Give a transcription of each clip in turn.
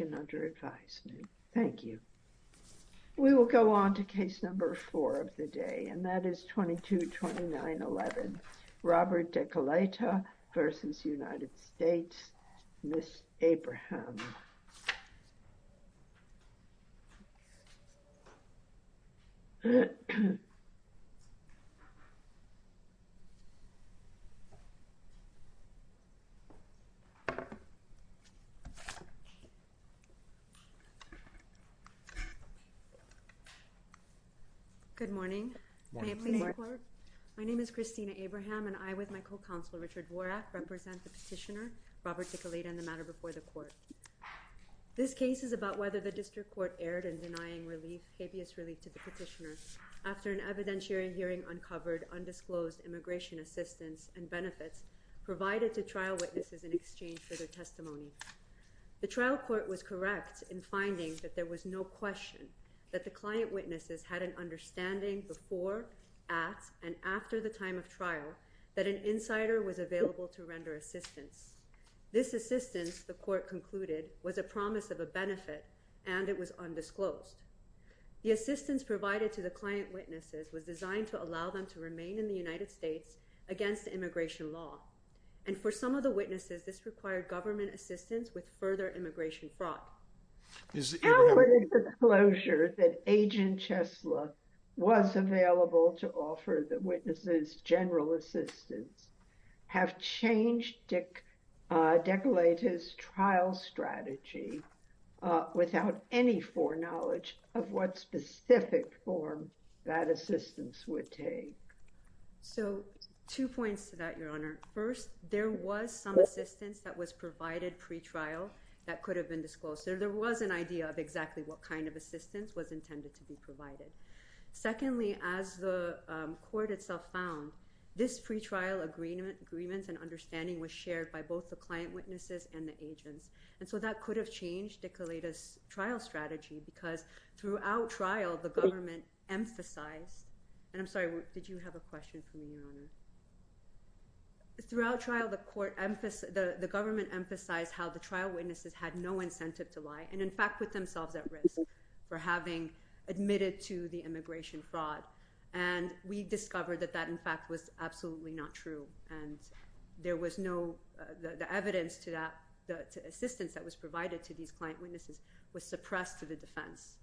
and under advisement. Thank you. We will go on to case number four of the day. And that is 222911, Robert Dekelaita versus United States, Miss Abraham. Good morning. My name is Christina Abraham and I with my co-counsel Richard Vorak represent the petitioner Robert Dekelaita in the matter before the court. This case is about whether the district court erred in denying relief, habeas relief to the petitioner after an evidentiary hearing uncovered undisclosed immigration assistance and benefits provided to trial witnesses in exchange for their testimony. The trial court was correct in finding that there was no question that the client witnesses had an understanding before, at, and after the time of trial that an insider was available to render assistance. This assistance, the court concluded, was a promise of a benefit and it was undisclosed. The assistance provided to the client witnesses was designed to allow them to remain in the United States against immigration law. And for some of the witnesses, this required government assistance with further immigration fraud. How would the disclosure that Agent Chesla was available to offer the witnesses general assistance have changed Dekelaita's trial strategy without any foreknowledge of what specific form that assistance would take? So, two points to that, Your Honor. First, there was some assistance that was provided pretrial that could have been disclosed. There was an idea of exactly what kind of assistance was intended to be provided. Secondly, as the court itself found, this pretrial agreement and understanding was shared by both the client witnesses and the agents, and so that could have changed Dekelaita's trial strategy because throughout trial, the government emphasized, and I'm sorry, did you have a question for me, Your Honor? Throughout trial, the government emphasized how the trial witnesses had no incentive to lie and, in fact, put themselves at risk for having admitted to the immigration fraud. And we discovered that that, in fact, was absolutely not true. And there was no, the evidence to that, the assistance that was provided to these client witnesses was suppressed to the defense.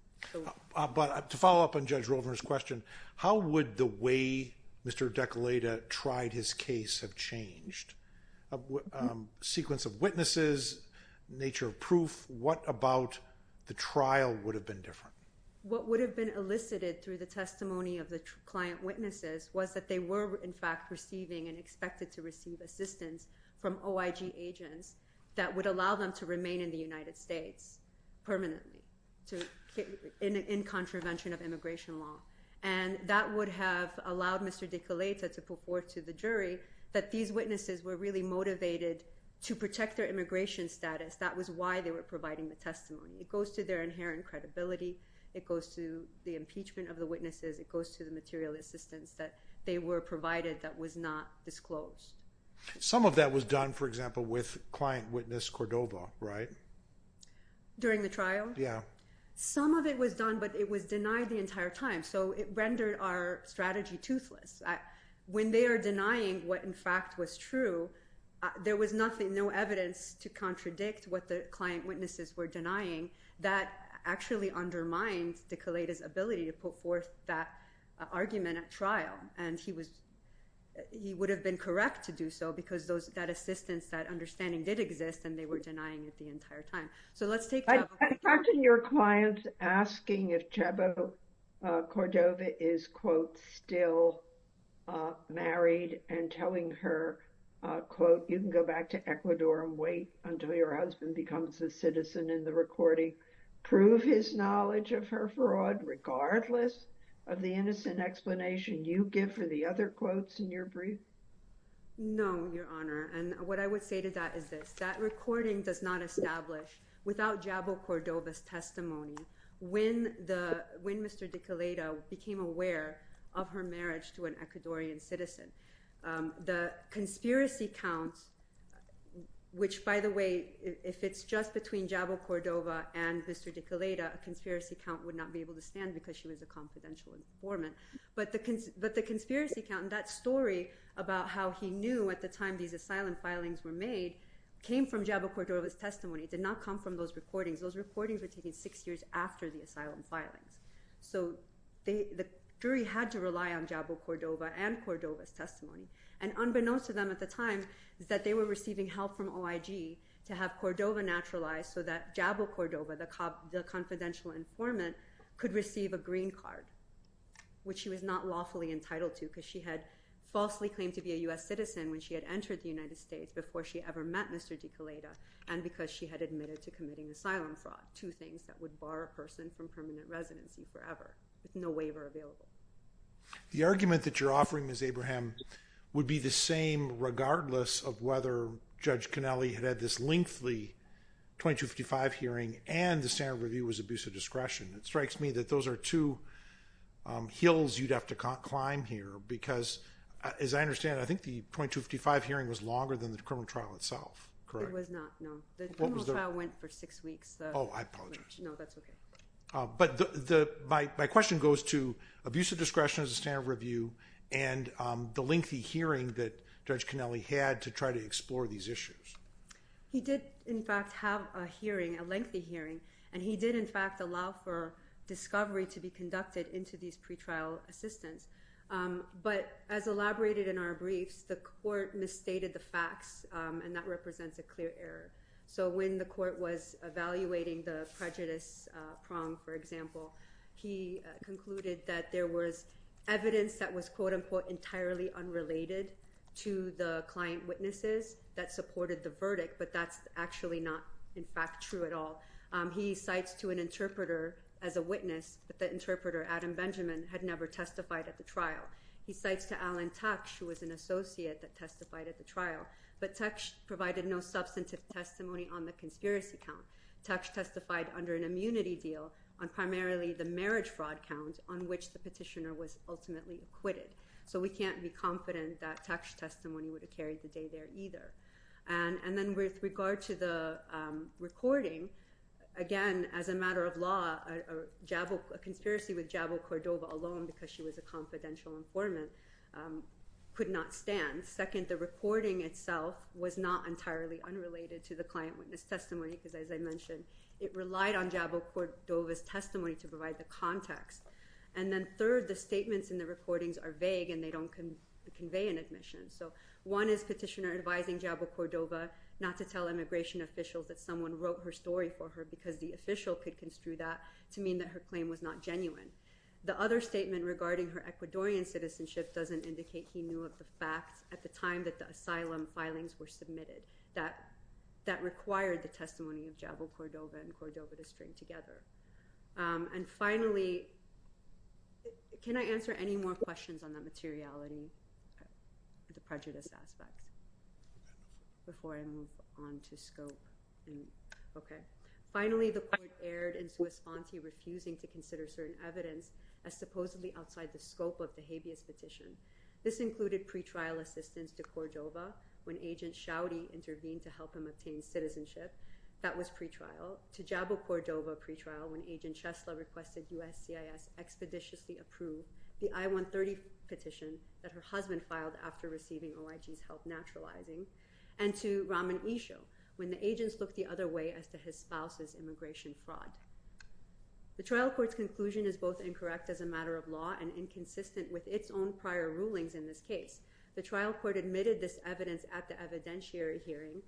But to follow up on Judge Rovner's question, how would the way Mr. Dekelaita tried his case have changed? Sequence of witnesses, nature of proof, what about the trial would have been different? What would have been elicited through the testimony of the client witnesses was that they were, in fact, receiving and expected to receive assistance from OIG agents that would allow them to remain in the United States permanently in contravention of immigration law. And that would have allowed Mr. Dekelaita to put forth to the jury that these witnesses were really motivated to protect their immigration status. That was why they were providing the testimony. It goes to their inherent credibility. It goes to the impeachment of the witnesses. It goes to the material assistance that they were provided that was not disclosed. Some of that was done, for example, with client witness Cordova, right? During the trial? Yeah. Some of it was done, but it was denied the entire time. So it rendered our strategy toothless. When they are denying what, in fact, was true, there was nothing, no evidence to contradict what the client witnesses were denying. That actually undermined Dekelaita's ability to put forth that argument at trial. And he would have been correct to do so because that assistance, that understanding did exist and they were denying it the entire time. So let's take- I imagine your clients asking if Chabo Cordova is, quote, still married and telling her, quote, you can go back to Ecuador and wait until your husband becomes a citizen in the recording, prove his knowledge of her fraud regardless of the innocent explanation you give for the other quotes in your brief? No, Your Honor, and what I would say to that is this, that recording does not establish without Chabo Cordova's testimony when Mr. Dekelaita became aware of her marriage to an Ecuadorian citizen. The conspiracy counts, which by the way, if it's just between Chabo Cordova and Mr. Dekelaita, a conspiracy count would not be able to stand because she was a confidential informant. But the conspiracy count and that story about how he knew at the time these asylum filings were made came from Chabo Cordova's testimony, did not come from those recordings. Those recordings were taken six years after the asylum filings. So the jury had to rely on Chabo Cordova and Cordova's testimony. And unbeknownst to them at the time is that they were receiving help from OIG to have Cordova naturalized so that Chabo Cordova, the confidential informant, could receive a green card, which she was not lawfully entitled to because she had falsely claimed to be a U.S. citizen when she had entered the United States before she ever met Mr. Dekelaita and because she had admitted to committing asylum fraud, two things that would bar a person from permanent residency forever with no waiver available. The argument that you're offering, Ms. Abraham, would be the same regardless of whether Judge Connelly had had this lengthy 2255 hearing and the standard review was abuse of discretion. It strikes me that those are two hills you'd have to climb here because, as I understand, I think the 2255 hearing was longer than the criminal trial itself, correct? It was not, no. The criminal trial went for six weeks. Oh, I apologize. No, that's okay. But my question goes to abuse of discretion as a standard review and the lengthy hearing that Judge Connelly had to try to explore these issues. He did, in fact, have a hearing, a lengthy hearing, and he did, in fact, allow for discovery to be conducted into these pretrial assistants. But as elaborated in our briefs, the court misstated the facts and that represents a clear error. So when the court was evaluating the prejudice prong, for example, he concluded that there was evidence that was, quote-unquote, entirely unrelated to the client witnesses that supported the verdict, but that's actually not, in fact, true at all. He cites to an interpreter as a witness that the interpreter, Adam Benjamin, had never testified at the trial. He cites to Alan Tuch, who was an associate that testified at the trial, but Tuch provided no substantive testimony on the conspiracy count. Tuch testified under an immunity deal on primarily the marriage fraud count on which the petitioner was ultimately acquitted. So we can't be confident that Tuch's testimony would have carried the day there either. And then with regard to the recording, again, as a matter of law, a conspiracy with Jabo Cordova alone, because she was a confidential informant, could not stand. Second, the recording itself was not entirely unrelated to the client witness testimony, because as I mentioned, it relied on Jabo Cordova's testimony to provide the context. And then third, the statements in the recordings are vague and they don't convey an admission. So one is petitioner advising Jabo Cordova not to tell immigration officials that someone wrote her story for her because the official could construe that to mean that her claim was not genuine. The other statement regarding her Ecuadorian citizenship doesn't indicate he knew of the facts at the time that the asylum filings were submitted. That required the testimony of Jabo Cordova and Cordova to string together. And finally, can I answer any more questions on that materiality, the prejudice aspect, before I move on to scope? Okay. Finally, the court erred in Suas-Fonte refusing to consider certain evidence as supposedly outside the scope of the habeas petition. This included pretrial assistance to Cordova when Agent Schaudy intervened to help him obtain citizenship. That was pretrial. To Jabo Cordova pretrial when Agent Chesla requested USCIS expeditiously approve the I-130 petition that her husband filed after receiving OIG's help naturalizing. And to Raman Isha when the agents looked the other way as to his spouse's immigration fraud. The trial court's conclusion is both incorrect as a matter of law and inconsistent with its own prior rulings in this case. The trial court admitted this evidence at the evidentiary hearing.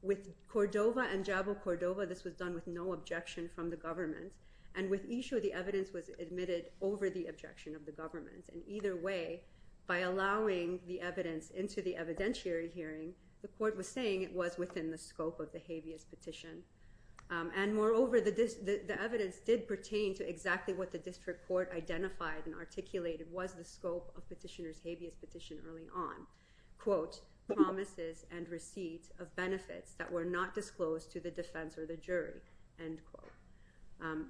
With Cordova and Jabo Cordova, this was done with no objection from the government. And with Isha, the evidence was admitted over the objection of the government. And either way, by allowing the evidence into the evidentiary hearing, the court was saying it was within the scope of the habeas petition. And moreover, the evidence did pertain to exactly what the district court identified and articulated was the scope of petitioner's habeas petition early on. Quote, promises and receipts of benefits that were not disclosed to the defense or the jury. End quote.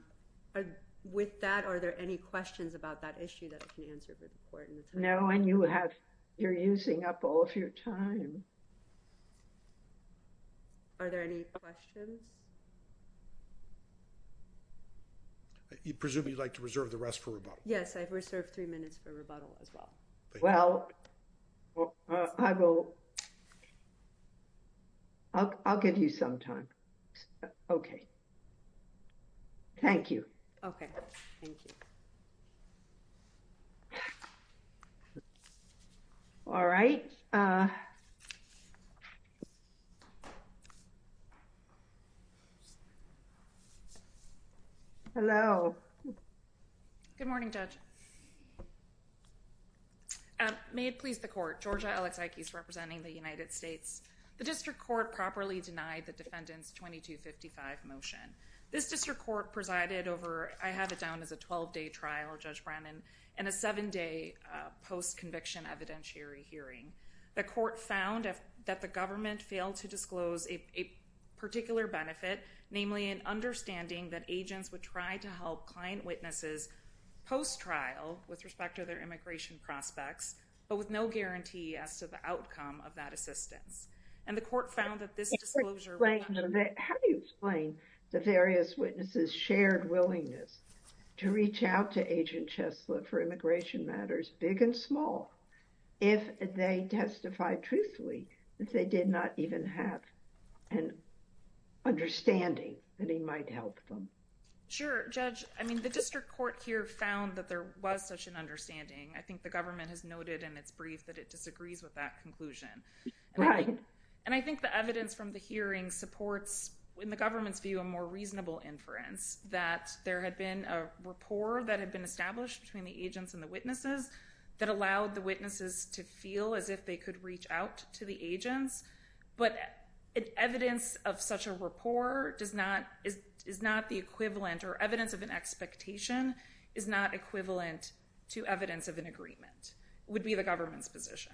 With that, are there any questions about that issue that I can answer for the court in the time? No, and you have, you're using up all of your time. Are there any questions? Presume you'd like to reserve the rest for rebuttal. Yes, I've reserved three minutes for rebuttal as well. Well, I will. I'll give you some time. Okay, thank you. Okay, thank you. All right. Hello. Good morning, Judge. May it please the court. Georgia Alexakis, representing the United States. The district court properly denied the defendant's 2255 motion. This district court presided over, I have it down as a 12-day trial, Judge Brennan, and a seven-day post-conviction evidentiary hearing. The court found that the government failed to disclose a particular benefit, namely an understanding that agents would try to help client witnesses post-trial with respect to their immigration prospects, but with no guarantee as to the outcome of that assistance. And the court found that this disclosure... How do you explain the various witnesses' shared willingness to reach out to Agent Cheslett for immigration matters, big and small, if they testified truthfully that they did not even have an understanding that he might help them? Sure, Judge. I mean, the district court here found that there was such an understanding. I think the government has noted in its brief that it disagrees with that conclusion. Right. And I think the evidence from the hearing supports, in the government's view, a more reasonable inference that there had been a rapport that had been established between the agents and the witnesses that allowed the witnesses to feel as if they could reach out to the agents. But evidence of such a rapport is not the equivalent, or evidence of an expectation is not equivalent to evidence of an agreement, would be the government's position.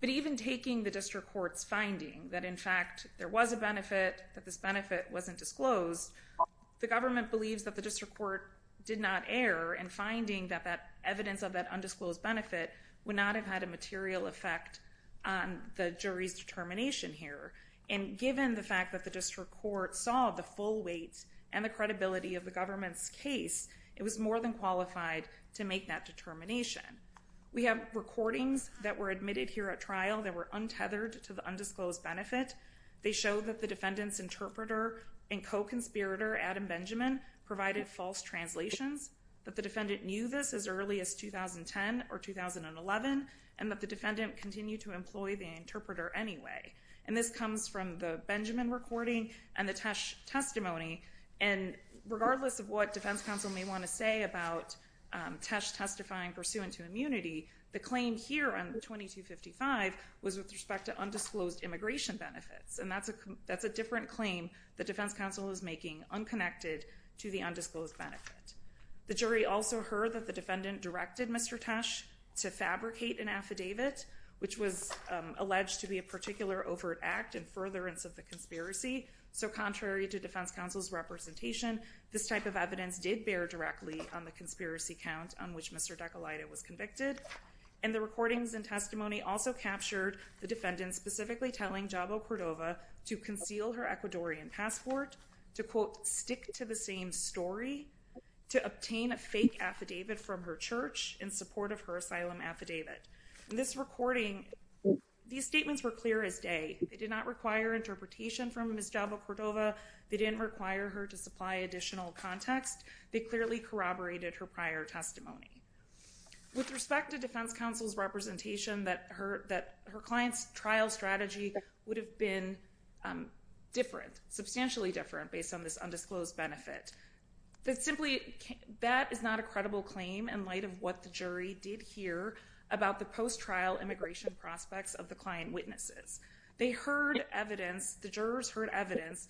But even taking the district court's finding that, in fact, there was a benefit, that this benefit wasn't disclosed, the government believes that the district court did not err in finding that that evidence of that undisclosed benefit would not have had a material effect on the jury's determination here. And given the fact that the district court saw the full weight and the credibility of the government's case, it was more than qualified to make that determination. We have recordings that were admitted here at trial that were untethered to the undisclosed benefit. They show that the defendant's interpreter and co-conspirator, Adam Benjamin, provided false translations, that the defendant knew this as early as 2010 or 2011, and that the defendant continued to employ the interpreter anyway. And this comes from the Benjamin recording and the Tesh testimony. And regardless of what defense counsel may want to say about Tesh testifying pursuant to immunity, the claim here on 2255 was with respect to undisclosed immigration benefits. And that's a different claim that defense counsel is making unconnected to the undisclosed benefit. The jury also heard that the defendant directed Mr. Tesh to fabricate an affidavit, which was alleged to be a particular overt act in furtherance of the conspiracy. So contrary to defense counsel's representation, this type of evidence did bear directly on the conspiracy count on which Mr. DeColaita was convicted. And the recordings and testimony also captured the defendant specifically telling Jabo Cordova to conceal her Ecuadorian passport, to, quote, stick to the same story, to obtain a fake affidavit from her church in support of her asylum affidavit. In this recording, these statements were clear as day. They did not require interpretation from Ms. Jabo Cordova. They didn't require her to supply additional context. They clearly corroborated her prior testimony. With respect to defense counsel's representation, that her client's trial strategy would have been different, substantially different, based on this undisclosed benefit. That simply, that is not a credible claim in light of what the jury did hear about the post-trial immigration prospects of the client witnesses. They heard evidence, the jurors heard evidence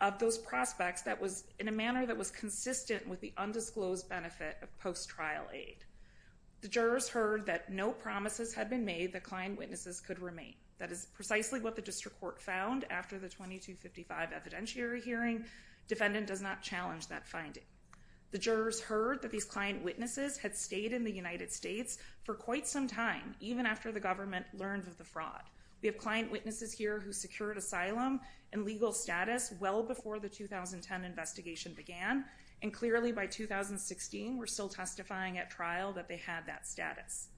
of those prospects that was, in a manner that was consistent with the undisclosed benefit of post-trial aid. The jurors heard that no promises had been made that client witnesses could remain. That is precisely what the district court found after the 2255 evidentiary hearing. Defendant does not challenge that finding. The jurors heard that these client witnesses had stayed in the United States for quite some time, even after the government learned of the fraud. We have client witnesses here who secured asylum and legal status well before the 2010 investigation began. And clearly by 2016, we're still testifying at trial that they had that status.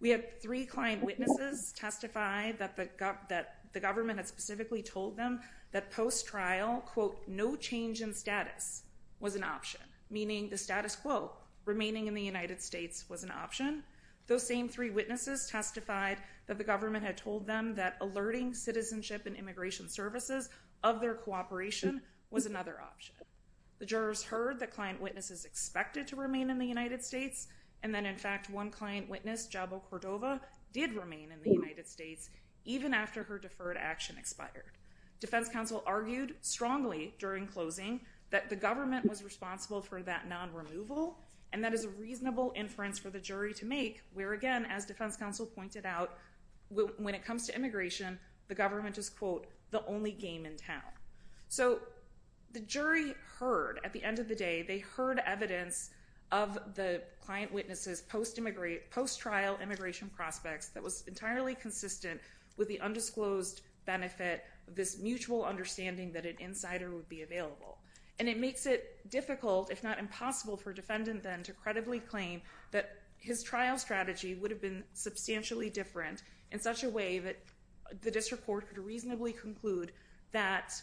We have three client witnesses testify that the government had specifically told them that post-trial, quote, no change in status was an option. Meaning the status quo, remaining in the United States was an option. Those same three witnesses testified that the government had told them that alerting citizenship and immigration services of their cooperation was another option. The jurors heard that client witnesses expected to remain in the United States. And then in fact, one client witness, Jabo Cordova, did remain in the United States even after her deferred action expired. Defense counsel argued strongly during closing that the government was responsible for that non-removal. And that is a reasonable inference for the jury to make where again, as defense counsel pointed out, when it comes to immigration, the government is quote, the only game in town. So the jury heard at the end of the day, they heard evidence of the client witnesses post-trial immigration prospects that was entirely consistent with the undisclosed benefit of this mutual understanding that an insider would be available. And it makes it difficult, if not impossible for defendant then to credibly claim that his trial strategy would have been substantially different in such a way that the district court could reasonably conclude that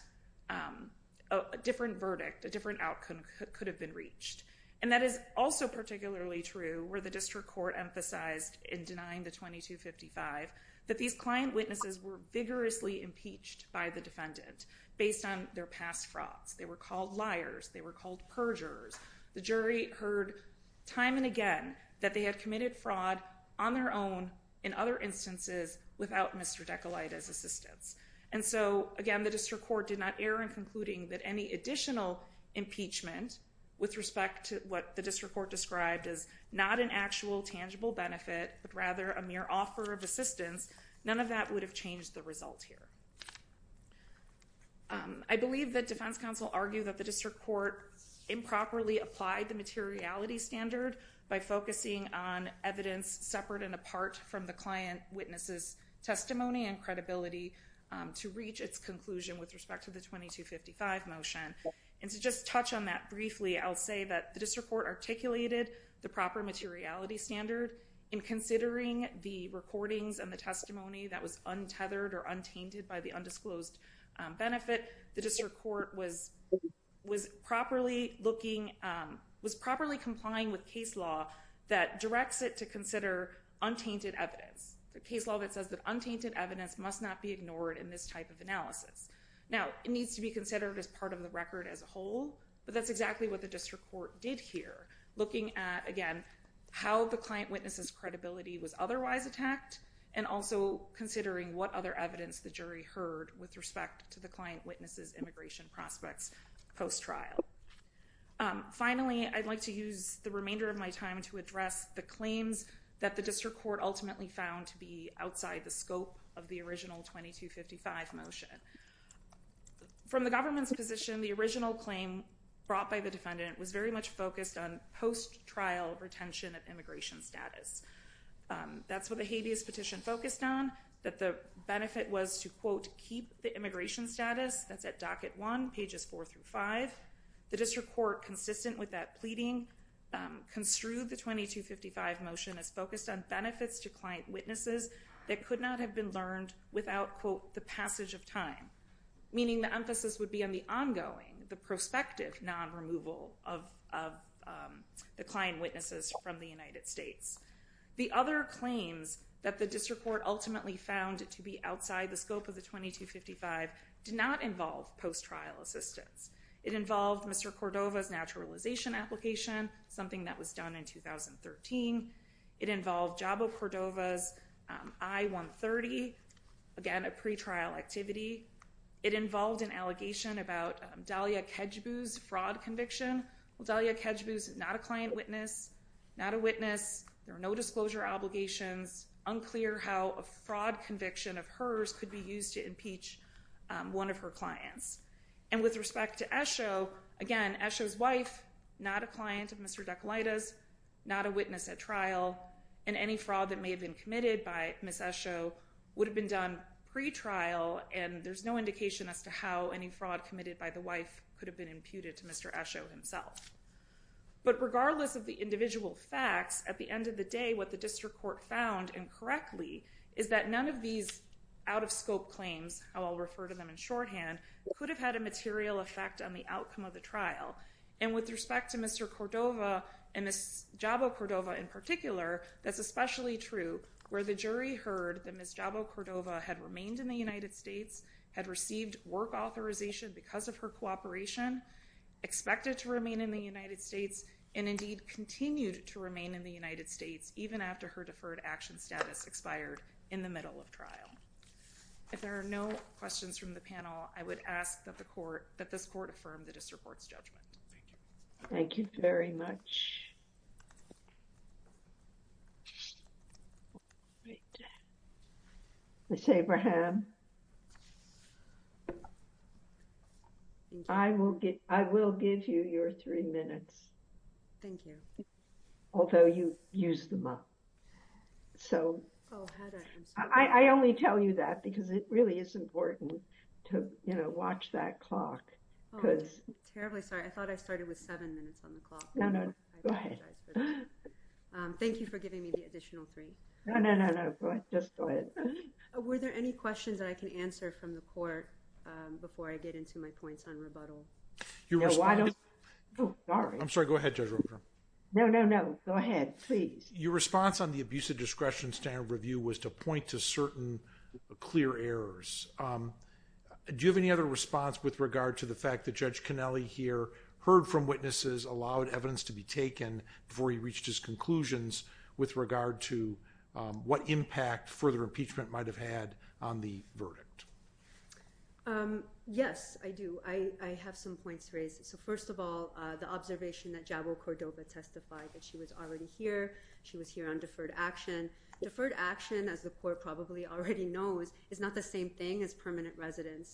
a different verdict, a different outcome could have been reached. And that is also particularly true where the district court emphasized in denying the 2255 that these client witnesses were vigorously impeached by the defendant based on their past frauds. They were called liars. They were called perjurers. The jury heard time and again that they had committed fraud on their own in other instances without Mr. Decalite's assistance. And so again, the district court did not err in concluding that any additional impeachment with respect to what the district court described as not an actual tangible benefit, but rather a mere offer of assistance. None of that would have changed the result here. I believe that defense counsel argue that the district court improperly applied the materiality standard by focusing on evidence separate and apart from the client witnesses testimony and credibility to reach its conclusion with respect to the 2255 motion. And to just touch on that briefly, I'll say that the district court articulated the proper materiality standard in considering the recordings and the testimony that was untethered or untainted by the undisclosed benefit. The district court was properly looking, was properly complying with case law that directs it to consider untainted evidence. The case law that says that untainted evidence must not be ignored in this type of analysis. Now it needs to be considered as part of the record as a whole, but that's exactly what the district court did here, looking at again, how the client witnesses credibility was otherwise attacked and also considering what other evidence the jury heard with respect to the client witnesses immigration prospects post-trial. Finally, I'd like to use the remainder of my time to address the claims that the district court ultimately found to be outside the scope of the original 2255 motion. From the government's position, the original claim brought by the defendant was very much focused on post-trial retention of immigration status. That's what the habeas petition focused on, that the benefit was to quote, keep the immigration status, that's at docket one, pages four through five. The district court consistent with that pleading, construed the 2255 motion as focused on benefits to client witnesses that could not have been learned without quote, the passage of time. Meaning the emphasis would be on the ongoing, the prospective non-removal of the client witnesses from the United States. The other claims that the district court ultimately found to be outside the scope of the 2255 did not involve post-trial assistance. It involved Mr. Cordova's naturalization application, something that was done in 2013. It involved Jabo Cordova's I-130, again, a pretrial activity. It involved an allegation about Dahlia Kajbu's fraud conviction. Well, Dahlia Kajbu's not a client witness, not a witness, there are no disclosure obligations, unclear how a fraud conviction of hers could be used to impeach one of her clients. And with respect to Esho, again, Esho's wife, not a client of Mr. Decolitis, not a witness at trial, and any fraud that may have been committed by Ms. Esho would have been done pretrial and there's no indication as to how any fraud committed by the wife could have been imputed to Mr. Esho himself. But regardless of the individual facts, at the end of the day, what the district court found incorrectly is that none of these out-of-scope claims, how I'll refer to them in shorthand, could have had a material effect on the outcome of the trial. And with respect to Mr. Cordova and Ms. Jabo Cordova in particular, that's especially true where the jury heard that Ms. Jabo Cordova had remained in the United States, had received work authorization because of her cooperation, expected to remain in the United States, and indeed continued to remain in the United States even after her deferred action status expired in the middle of trial. If there are no questions from the panel, I would ask that the court, that this court affirm the district court's judgment. Thank you. Thank you very much. Ms. Abraham, I will give you your three minutes. Thank you. Although you used them up. So I only tell you that because it really is important to, you know, watch that clock. Oh, I'm terribly sorry. I thought I started with seven minutes on the clock. I'm sorry. I'm sorry. I'm sorry. I'm sorry. I'm sorry. I apologize for that. Thank you for giving me the additional three. No, no, no, no, go ahead. Just go ahead. Were there any questions that I can answer from the court before I get into my points on rebuttal? No, why don't, oh, sorry. I'm sorry. Go ahead, Judge Roper. No, no, no. Go ahead, please. Your response on the abuse of discretion standard review was to point to certain clear errors. Do you have any other response with regard to the fact that Judge Connelly here heard from witnesses, allowed evidence to be taken before he reached his conclusions with regard to what impact further impeachment might have had on the verdict? Yes, I do. I have some points to raise. So first of all, the observation that Jabo Cordoba testified that she was already here, she was here on deferred action. Deferred action, as the court probably already knows,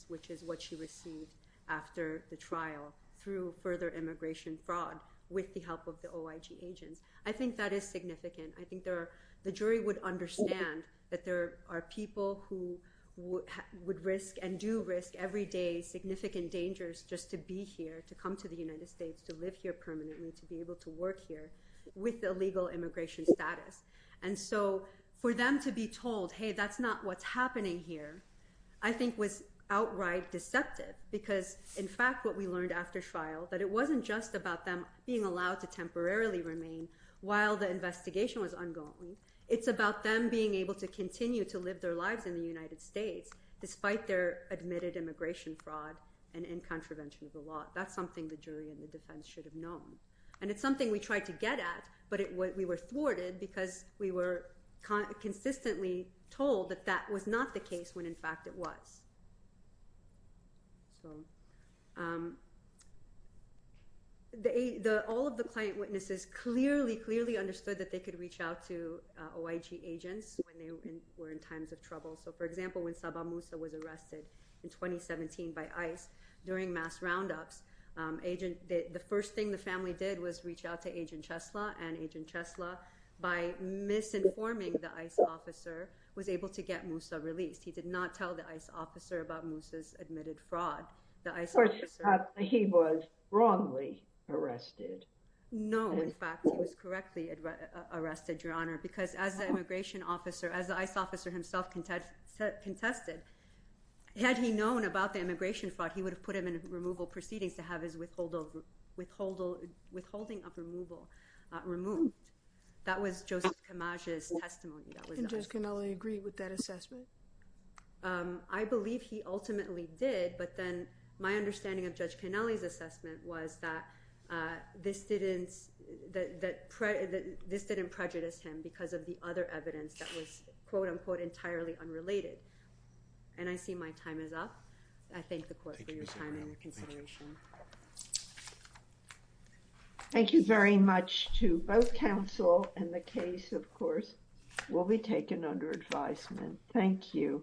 which is what she received after the trial through further immigration fraud with the help of the OIG agents. I think that is significant. I think the jury would understand that there are people who would risk and do risk every day significant dangers just to be here, to come to the United States, to live here permanently, to be able to work here with illegal immigration status. And so for them to be told, hey, that's not what's happening here, I think was outright deceptive because in fact, what we learned after trial, that it wasn't just about them being allowed to temporarily remain while the investigation was ongoing, it's about them being able to continue to live their lives in the United States despite their admitted immigration fraud and in contravention of the law. That's something the jury and the defense should have known. And it's something we tried to get at, but we were thwarted because we were consistently told that that was not the case when in fact it was. So all of the client witnesses clearly, clearly understood that they could reach out to OIG agents when they were in times of trouble. So for example, when Sabah Musa was arrested in 2017 by ICE during mass roundups, the first thing the family did was reach out to Agent Chesla and Agent Chesla by misinforming the ICE officer was able to get Musa released. He did not tell the ICE officer about Musa's admitted fraud. He was wrongly arrested. No, in fact, he was correctly arrested, Your Honor, because as the immigration officer, as the ICE officer himself contested, had he known about the immigration fraud, he would have put him in removal proceedings to have his withholding of removal removed. And Judge Cannella agree with that assessment? I believe he ultimately did. But then my understanding of Judge Cannella's assessment was that this didn't prejudice him because of the other evidence that was, quote unquote, entirely unrelated. And I see my time is up. I thank the court for your time and consideration. Thank you very much to both counsel and the case, of course, will be taken under advisement. Thank you.